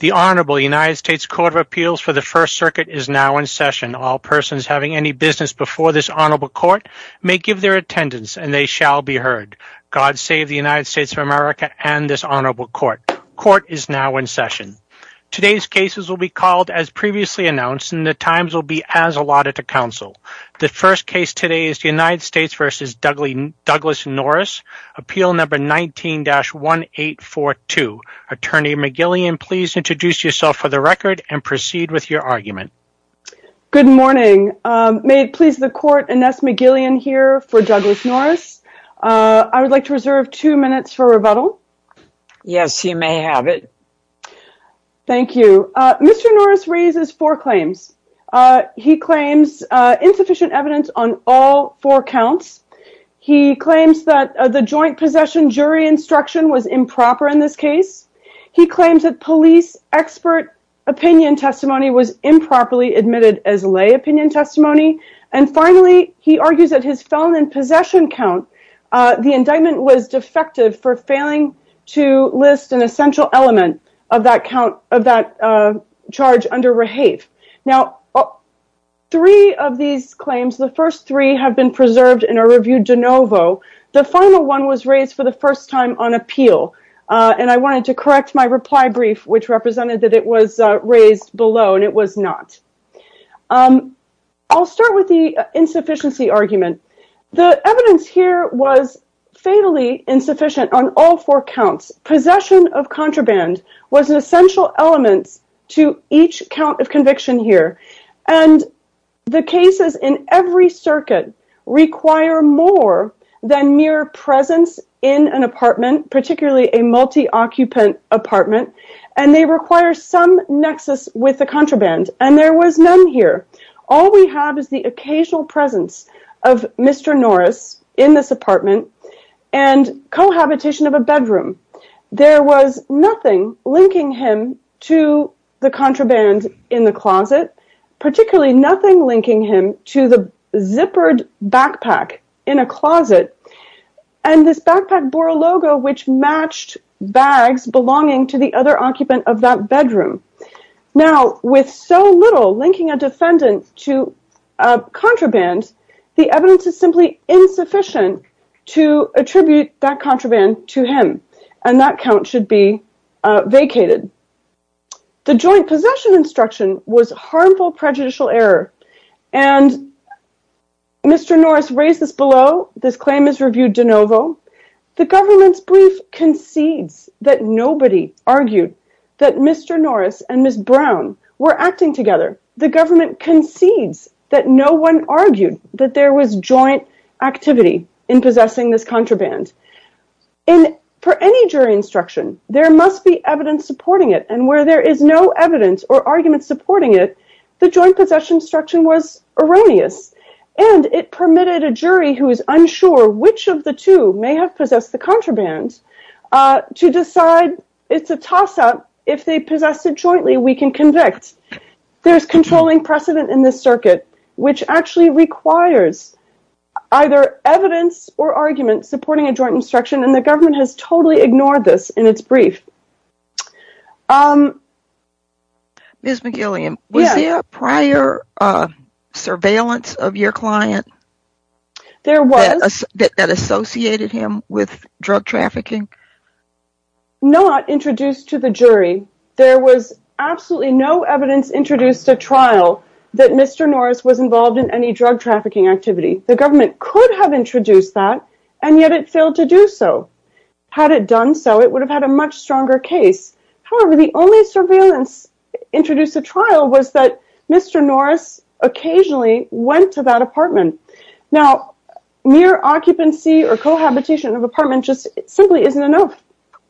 The Honorable United States Court of Appeals for the First Circuit is now in session. All persons having any business before this Honorable Court may give their attendance and they shall be heard. God save the United States of America and this Honorable Court. Court is now in session. Today's cases will be called as previously announced and the times will be as allotted to counsel. The first case today is United States v. Douglas Norris, Appeal No. 19-1842. Attorney McGillian, please introduce yourself for the record and proceed with your argument. Good morning. May it please the Court, Ines McGillian here for Douglas Norris. I would like to reserve two minutes for rebuttal. Yes, you may have it. Thank you. Mr. Norris raises four claims. He claims insufficient evidence on all four counts. He claims that the joint possession jury instruction was improper in this case. He claims that police expert opinion testimony was improperly admitted as lay opinion testimony. And finally, he argues that his felon in possession count, the indictment was defective for failing to list an essential element of that count of that charge under rehave. Now, three of these claims, the first three have been preserved and are reviewed de novo. The final one was raised for the first time on appeal and I wanted to correct my reply brief which represented that it was raised below and it was not. I'll start with the insufficiency argument. The evidence here was fatally insufficient on all four counts. Possession of contraband was an essential element to each count of conviction here and the cases in every circuit require more than mere presence in an apartment, particularly a multi-occupant apartment, and they require some nexus with the contraband and there was none here. All we have is the occasional presence of Mr. Norris in this the contraband in the closet, particularly nothing linking him to the zippered backpack in a closet and this backpack bore a logo which matched bags belonging to the other occupant of that bedroom. Now, with so little linking a defendant to contraband, the evidence is simply insufficient to attribute that contraband to him and that count should be vacated. Joint possession instruction was harmful prejudicial error and Mr. Norris raised this below. This claim is reviewed de novo. The government's brief concedes that nobody argued that Mr. Norris and Ms. Brown were acting together. The government concedes that no one argued that there was joint activity in possessing this contraband. For any jury instruction, there must be evidence supporting it and where there is no evidence or argument supporting it, the joint possession instruction was erroneous and it permitted a jury who is unsure which of the two may have possessed the contraband to decide it's a toss-up if they possess it jointly we can convict. There's controlling precedent in this circuit which actually requires either evidence or argument supporting a joint instruction and the government has totally ignored this in its brief. Ms. McGillian, was there prior surveillance of your client that associated him with drug trafficking? Not introduced to the jury. There was absolutely no evidence introduced to trial that Mr. Norris was involved in any drug trafficking activity. The government could have introduced that and yet it failed to do so. Had it done so, it would have had a much stronger case. However, the only surveillance introduced to trial was that Mr. Norris occasionally went to that apartment. Now, mere occupancy or cohabitation of apartment just simply isn't enough.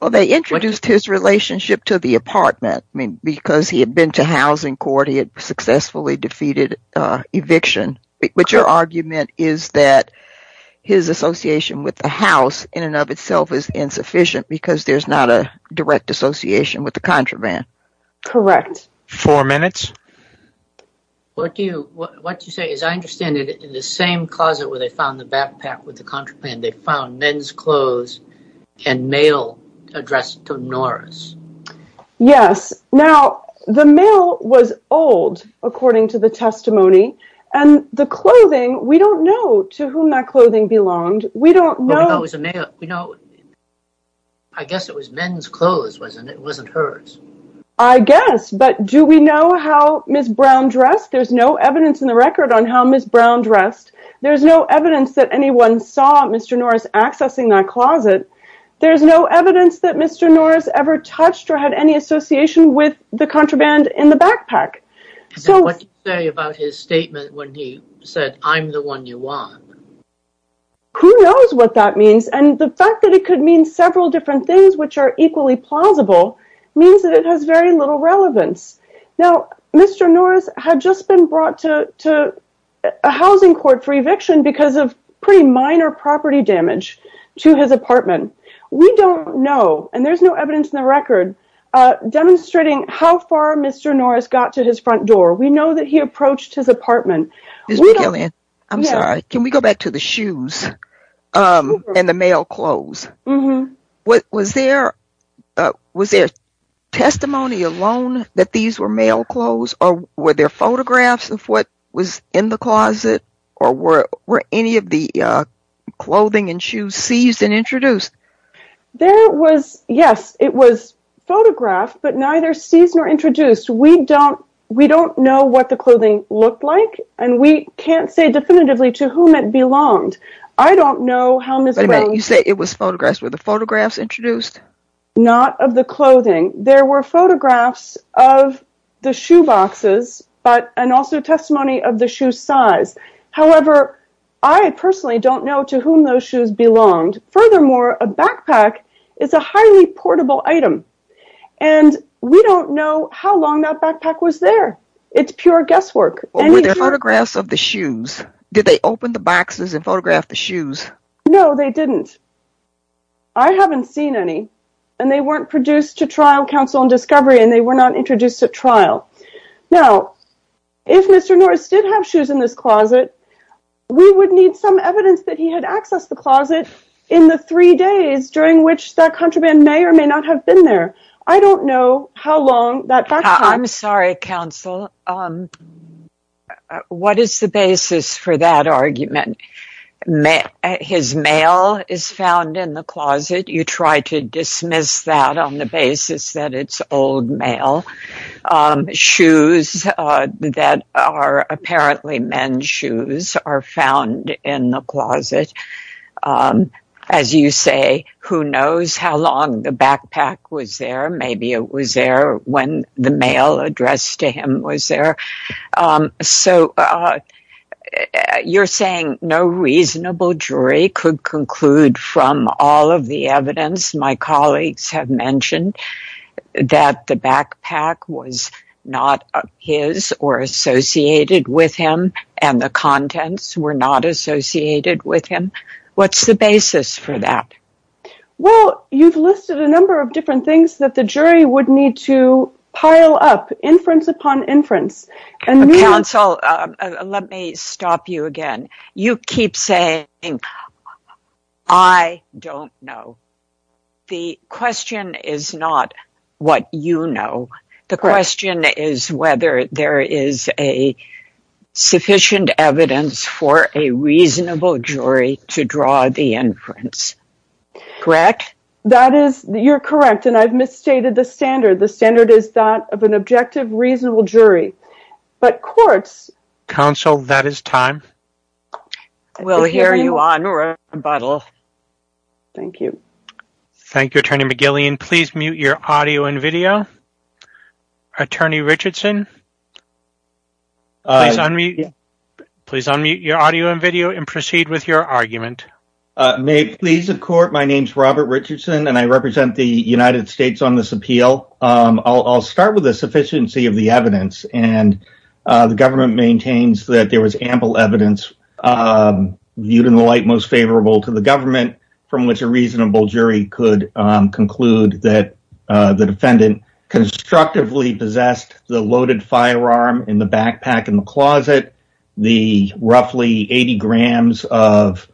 Well, they introduced his relationship to the apartment because he had been to housing court, he had successfully defeated eviction, but your argument is that his association with the house in and of itself is insufficient because there's not a direct association with the contraband. Correct. Four minutes. What do you say? As I understand it, in the same closet where they found the backpack with the contraband, they found men's clothes and mail addressed to Norris. Yes. Now, the mail was old, according to the testimony, and the clothing, we don't know to whom that clothing belonged. We don't know. I guess it was men's clothes. It wasn't hers. I guess, but do we know how Ms. Brown dressed? There's no evidence in the record on how Ms. Brown dressed. There's no evidence that anyone saw Mr. Norris accessing that closet. There's no evidence that Mr. Norris ever touched or had any association with the contraband in the backpack. What did he say about his statement when he said, I'm the one you want? Who knows what that means, and the fact that it could mean several different things which are equally plausible means that it has very little relevance. Now, Mr. Norris had just been brought to a housing court for eviction because of pretty minor property damage to his apartment. We don't know, and there's no evidence in the record, demonstrating how far Mr. Norris got to his front door. We know that he approached his apartment. I'm sorry. Can we go back to the shoes and the mail clothes? Was there testimony alone that these were mail clothes, or were there photographs of what was in the closet, or were any of the clothing and shoes seized and introduced? There was, yes, it was photographed, but neither seized nor introduced. We don't know what the clothing looked like, and we can't say definitively to whom it belonged. I don't know how Ms. Brown... Wait a minute. You say it was with the photographs introduced? Not of the clothing. There were photographs of the shoe boxes, and also testimony of the shoe size. However, I personally don't know to whom those shoes belonged. Furthermore, a backpack is a highly portable item, and we don't know how long that backpack was there. It's pure guesswork. Were there photographs of the shoes? Did they open the boxes and photograph the shoes? No, they didn't. I haven't seen any, and they weren't produced to trial counsel and discovery, and they were not introduced at trial. Now, if Mr. Norris did have shoes in this closet, we would need some evidence that he had accessed the closet in the three days during which that contraband may or may not have been there. I don't know how long that backpack... I'm sorry, counsel. What is the basis for that argument? His mail is found in the closet. You try to dismiss that on the basis that it's old mail. Shoes that are apparently men's shoes are found in the closet. As you say, who knows how long the backpack was there? Maybe it was there when the mail addressed to him was there. So, you're saying no reasonable jury could conclude from all of the evidence my colleagues have mentioned that the backpack was not his or associated with him, and the contents were not a number of different things that the jury would need to pile up, inference upon inference. Counsel, let me stop you again. You keep saying, I don't know. The question is not what you know. The question is whether there is sufficient evidence for a reasonable jury to draw the inference. Correct? That is, you're correct, and I've misstated the standard. The standard is that of an objective reasonable jury, but courts... Counsel, that is time. We'll hear you on rebuttal. Thank you. Thank you, Attorney McGillian. Please mute your audio and video. Attorney Richardson, please unmute your audio and video and proceed with your argument. May it please the court, my name is Robert Richardson, and I represent the United States on this appeal. I'll start with the sufficiency of the evidence, and the government maintains that there was ample evidence viewed in the light most favorable to the government, from which a reasonable jury could conclude that the defendant constructively possessed the loaded firearm in the backpack in the closet, the roughly 80 grams of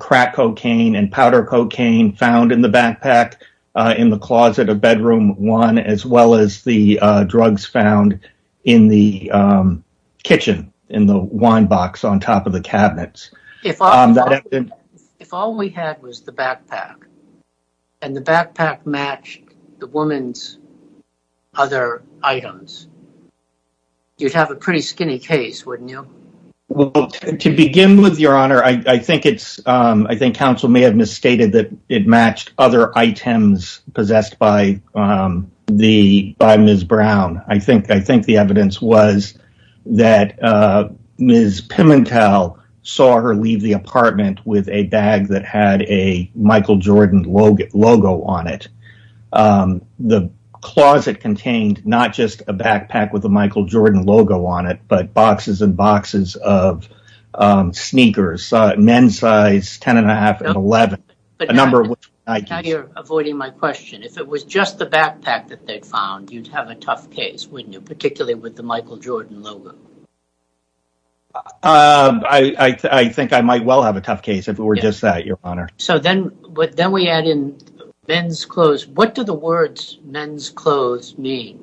crack cocaine and powder cocaine found in the backpack in the closet of bedroom one, as well as the drugs found in the kitchen, in the wine box on top of the cabinets. If all we had was the backpack, and the backpack matched the woman's other items, you'd have a pretty skinny case, wouldn't you? Well, to begin with, Your Honor, I think counsel may have misstated that it matched other items possessed by Ms. Brown. I think the evidence was that Ms. Pimentel saw her leave the apartment with a bag that had a Michael Jordan logo on it. The closet contained not just a backpack with a Michael Jordan logo on it, but boxes and boxes of sneakers, men's size 10 and a half and 11. Now you're avoiding my question. If it was just the backpack that they'd found, you'd have a tough case, wouldn't you, particularly with the Michael Jordan logo? I think I might well have a tough case if it were just that, Your Honor. So then we add in men's clothes. What do the words men's clothes mean?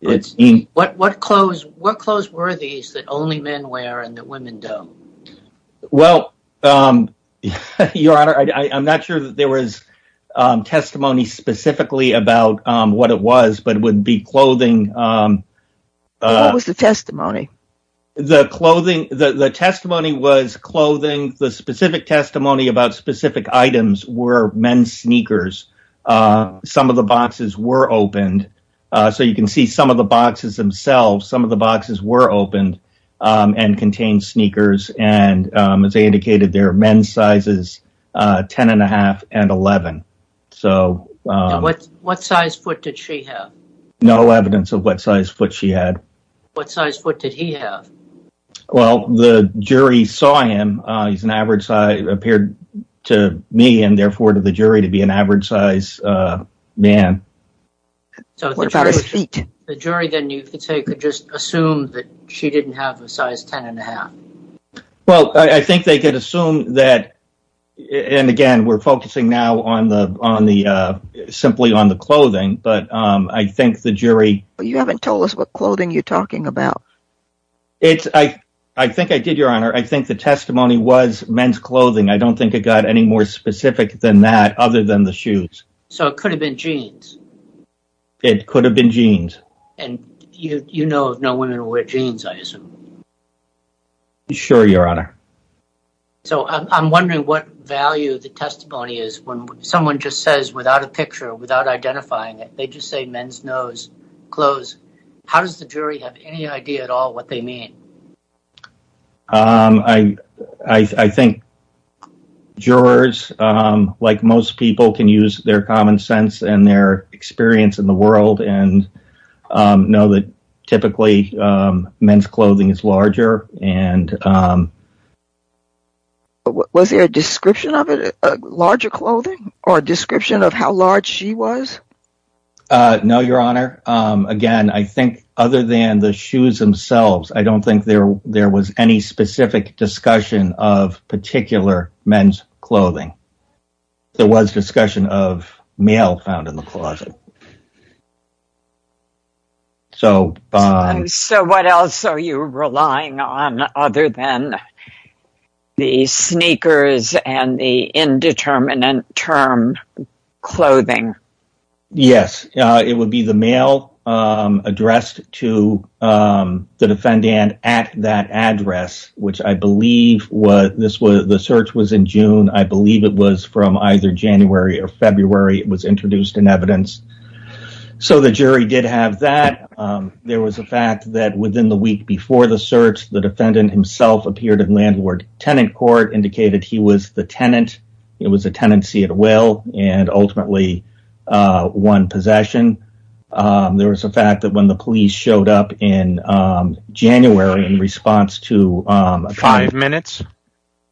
What clothes were these that only men wear and that women don't? Well, Your Honor, I'm not sure that there was testimony specifically about what it was, but it would be clothing. What was the testimony? The clothing, the testimony was clothing. The specific testimony about specific items were men's sneakers. Some of the boxes were opened. So you can see some of the boxes themselves, some of the boxes were opened and contained sneakers. And as I indicated, there are men's sizes 10 and a half and 11. So. What size foot did she have? No evidence of what size foot she had. What size foot did he have? Well, the jury saw him. He's an average size, appeared to me and therefore to the jury to be an average size man. So what about his feet? The jury then you could say could just assume that she didn't have a size 10 and a half. Well, I think they could assume that. And again, we're focusing now on the, simply on the clothing, but I think the jury. You haven't told us what clothing you're talking about. It's, I think I did, Your Honor. I think the testimony was men's clothing. I don't think it got any more specific than that, other than the shoes. So it could have been jeans. It could have been jeans. And you know, no women wear jeans, I assume. Sure, Your Honor. So I'm wondering what value the testimony is when someone just says without a picture, without identifying it, they just say men's nose, clothes. How does the jury have any idea at all what they mean? I think jurors, like most people can use their common sense and their experience in the world and know that typically men's clothing is larger. And was there a description of it, larger clothing or description of how large she was? No, Your Honor. Again, I think other than the shoes themselves, I don't think there was any specific discussion of particular men's clothing. So, so what else are you relying on other than the sneakers and the indeterminate term clothing? Yes, it would be the mail addressed to the defendant at that address, which I believe was this was the search was in June. I believe it was from either January or February. It was introduced in evidence. So the jury did have that. There was a fact that within the week before the search, the defendant himself appeared in landlord tenant court, indicated he was the tenant. It was a tenancy at will and ultimately one possession. There was a fact that when the police showed up in January in response to five minutes,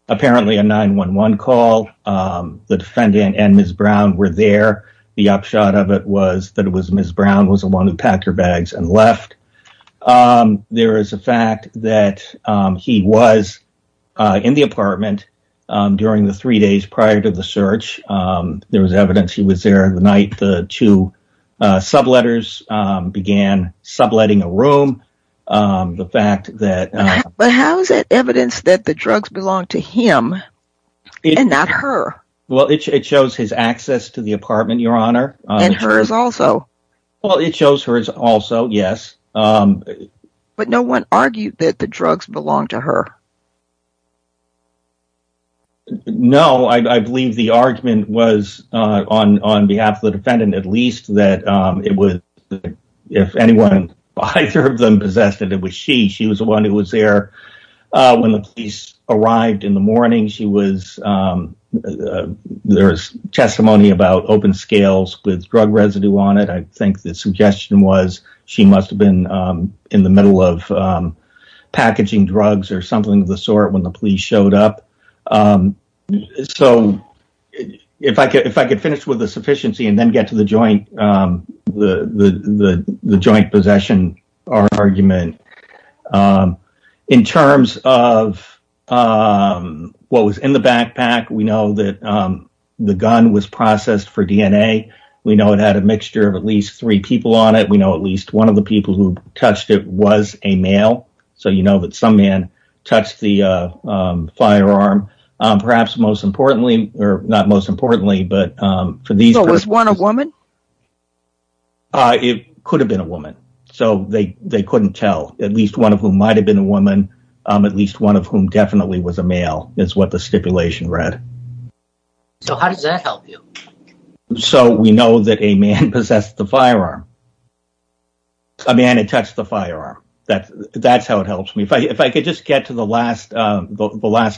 apparently a 911 call, the defendant and Ms. Brown were there. The upshot of it was that it was Ms. Brown was the one who packed her bags and left. There is a fact that he was in the apartment during the three days prior to the search. There was evidence he was there the night the two subletters began subletting a room. The fact that. But how is that evidence that the drugs belong to him and not her? Well, it shows his access to the apartment, Your Honor. And hers also. Well, it shows hers also, yes. But no one argued that the drugs belong to her. No, I believe the argument was on behalf of the defendant, at least that it was if anyone either of them possessed it, it was she. She was the one who was there when the police arrived in the morning. There was testimony about open scales with drug residue on it. I think the suggestion was she must have been in the middle of packaging drugs or something of the sort when the police showed up. So, if I could finish with the sufficiency and then get to the joint possession argument. In terms of what was in the backpack, we know that the gun was processed for DNA. We know it had a mixture of at least three people on it. We know at least one of the people who touched it was a male. So, you know that some man touched the firearm, perhaps most importantly, or not most importantly, but for these. It could have been a woman. So, they couldn't tell at least one of whom might have been a woman, at least one of whom definitely was a male is what the stipulation read. So, how does that help you? So, we know that a man possessed the firearm. A man had touched the firearm. That's how it helps me. If I could just get to the last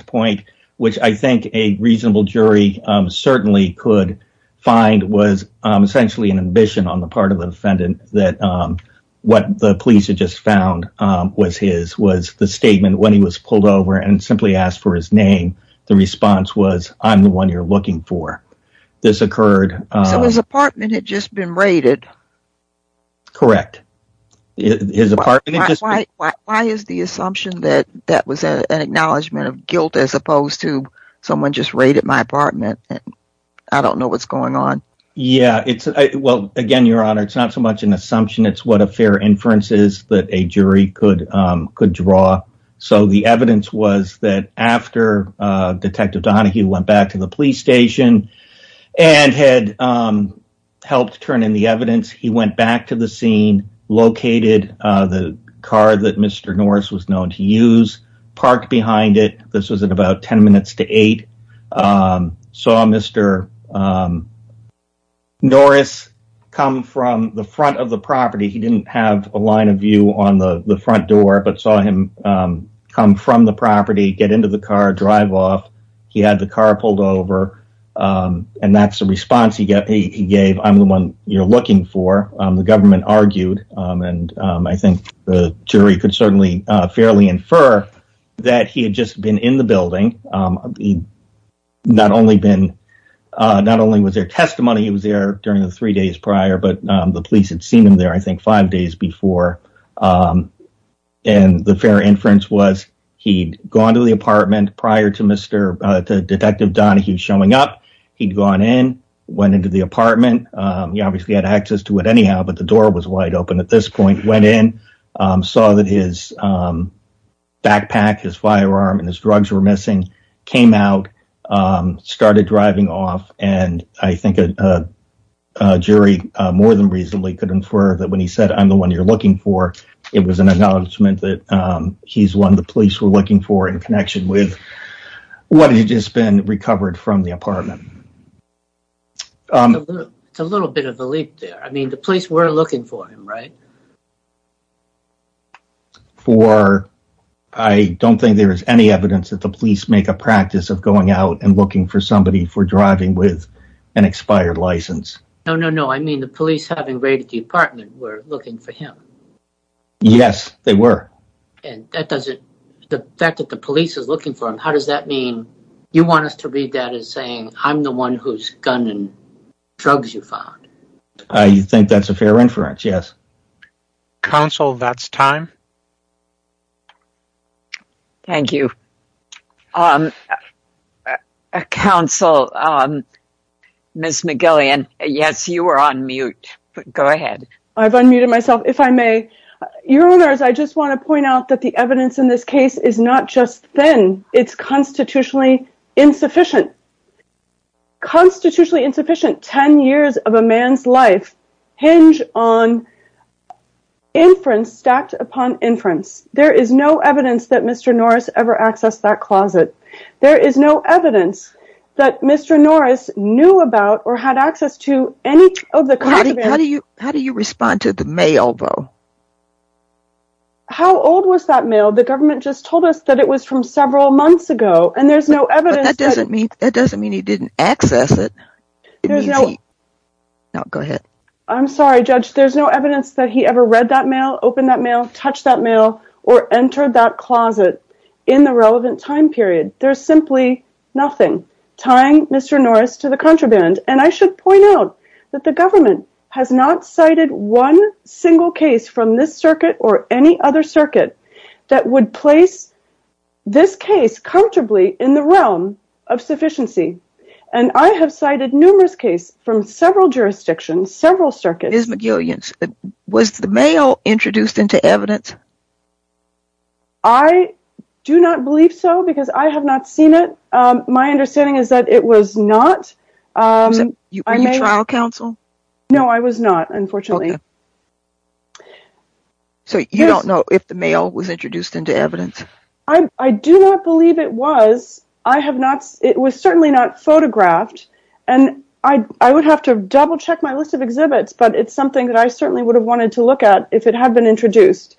point, which I think a reasonable jury certainly could find was essentially an ambition on the part of the defendant that what the police had just found was his, was the statement when he was pulled over and simply asked for his name. The response was, I'm the one you're looking for. This occurred. So, his apartment had just been raided? Correct. Why is the assumption that that was an acknowledgement of guilt as opposed to someone just raided my apartment? I don't know what's going on. Yeah. Well, again, Your Honor, it's not so much an assumption. It's what a fair inference is that a jury could draw. So, the evidence was that after Detective Donahue went back to the police station and had helped turn in the evidence, he went back to the scene, located the car that Mr. Norris was known to use, parked behind it. This was at about 10 minutes to 8. He saw Mr. Norris come from the front of the property. He didn't have a line of view on the front door, but saw him come from the property, get into the car, drive off. He had the car pulled over, and that's the response he gave. I'm the one you're looking for. The government argued, and I think the jury could certainly fairly infer, that he had just been in the building. He not only was there testimony, he was there during the three days prior, but the police had seen him there, I think, five days before. And the fair inference was he'd gone to the apartment prior to Detective Donahue showing up. He'd gone in, went into the apartment. He obviously had access to it anyhow, but the door was wide open at this point. Went in, saw that his backpack, his firearm, and his drugs were missing. Came out, started driving off, and I think a jury, more than reasonably, could infer that when he said, I'm the one you're looking for, it was an announcement that he's one the police were looking for in connection with what had just been recovered from the apartment. It's a little bit of a leap there. I mean, the police were looking for him, right? For, I don't think there is any evidence that the police make a practice of going out and looking for somebody for driving with an expired license. No, no, no. I mean, the police having raided the apartment were looking for him. Yes, they were. And that doesn't, the fact that the police is looking for him, how does that mean, you want us to read that as saying, I'm the one whose gun and drugs you found? I think that's a fair inference, yes. Counsel, that's time. Thank you. Counsel, Ms. McGillian, yes, you are on mute. Go ahead. I've unmuted myself, if I may. Your Honors, I just want to point out that the evidence in this case is not just thin, it's constitutionally insufficient. Constitutionally insufficient, 10 years of a man's life hinge on inference stacked upon inference. There is no evidence that Mr. Norris ever accessed that closet. There is no evidence that Mr. Norris knew about or had access to any of the contraband. How do you respond to the mail, though? How old was that mail? The government just told us that it was from several months ago, and there's no evidence. That doesn't mean he didn't access it. No, go ahead. I'm sorry, Judge. There's no evidence that he ever read that mail, opened that mail, touched that mail, or entered that closet in the relevant time period. There's simply nothing tying Mr. Norris to the contraband. And I should point out that the government has not cited one single case from this circuit or any other circuit that would place this case comfortably in the realm of sufficiency. And I have cited numerous cases from several jurisdictions, several circuits. Ms. McGillian, was the mail introduced into evidence? I do not believe so because I have not seen it. My understanding is that it was not. Were you trial counsel? No, I was not, unfortunately. OK. So you don't know if the mail was introduced into evidence? I do not believe it was. I have not. It was certainly not photographed. And I would have to double check my list of exhibits, but it's something that I certainly would have wanted to look at if it had been introduced.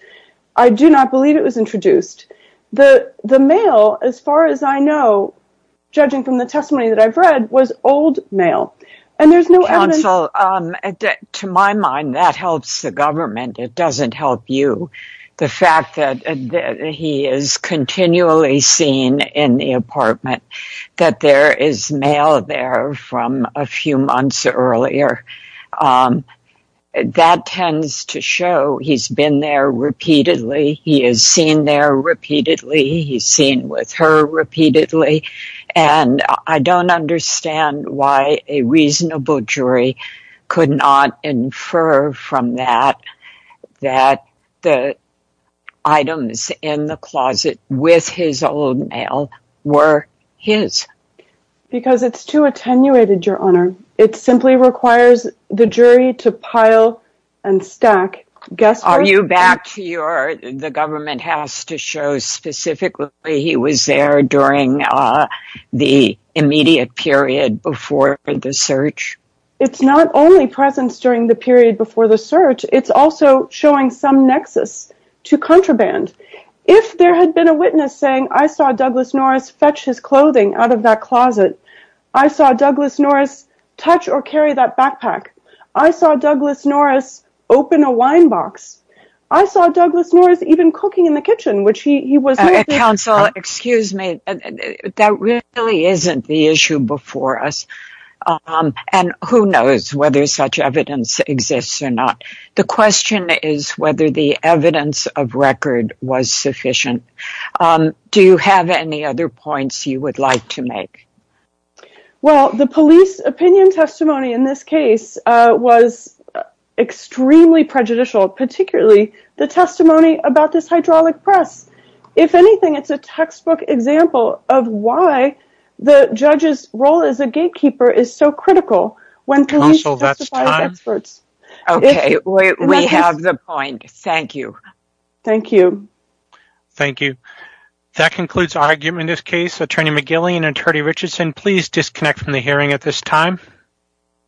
I do not believe it was introduced. The mail, as far as I know, judging from the testimony that I've read, was old mail. And there's no evidence. So to my mind, that helps the government. It doesn't help you. The fact that he is continually seen in the apartment, that there is mail there from a few months earlier, that tends to show he's been there repeatedly. He is seen there repeatedly. He's seen with her repeatedly. And I don't understand why a reasonable jury could not infer from that that the items in the closet with his old mail were his. Because it's too attenuated, Your Honor. It simply requires the jury to pile and stack. Guess what? The government has to show specifically he was there during the immediate period before the search. It's not only presence during the period before the search. It's also showing some nexus to contraband. If there had been a witness saying, I saw Douglas Norris fetch his clothing out of that closet, I saw Douglas Norris touch or carry that backpack, I saw Douglas Norris open a mailbox, I saw Douglas Norris even cooking in the kitchen, which he was not. Counsel, excuse me. That really isn't the issue before us. And who knows whether such evidence exists or not. The question is whether the evidence of record was sufficient. Do you have any other points you would like to make? Well, the police opinion testimony in this case was extremely prejudicial, particularly the testimony about this hydraulic press. If anything, it's a textbook example of why the judge's role as a gatekeeper is so critical when police testify as experts. OK, we have the point. Thank you. Thank you. Thank you. That concludes our argument in this case. Attorney McGillian, Attorney Richardson, please disconnect from the hearing at this time.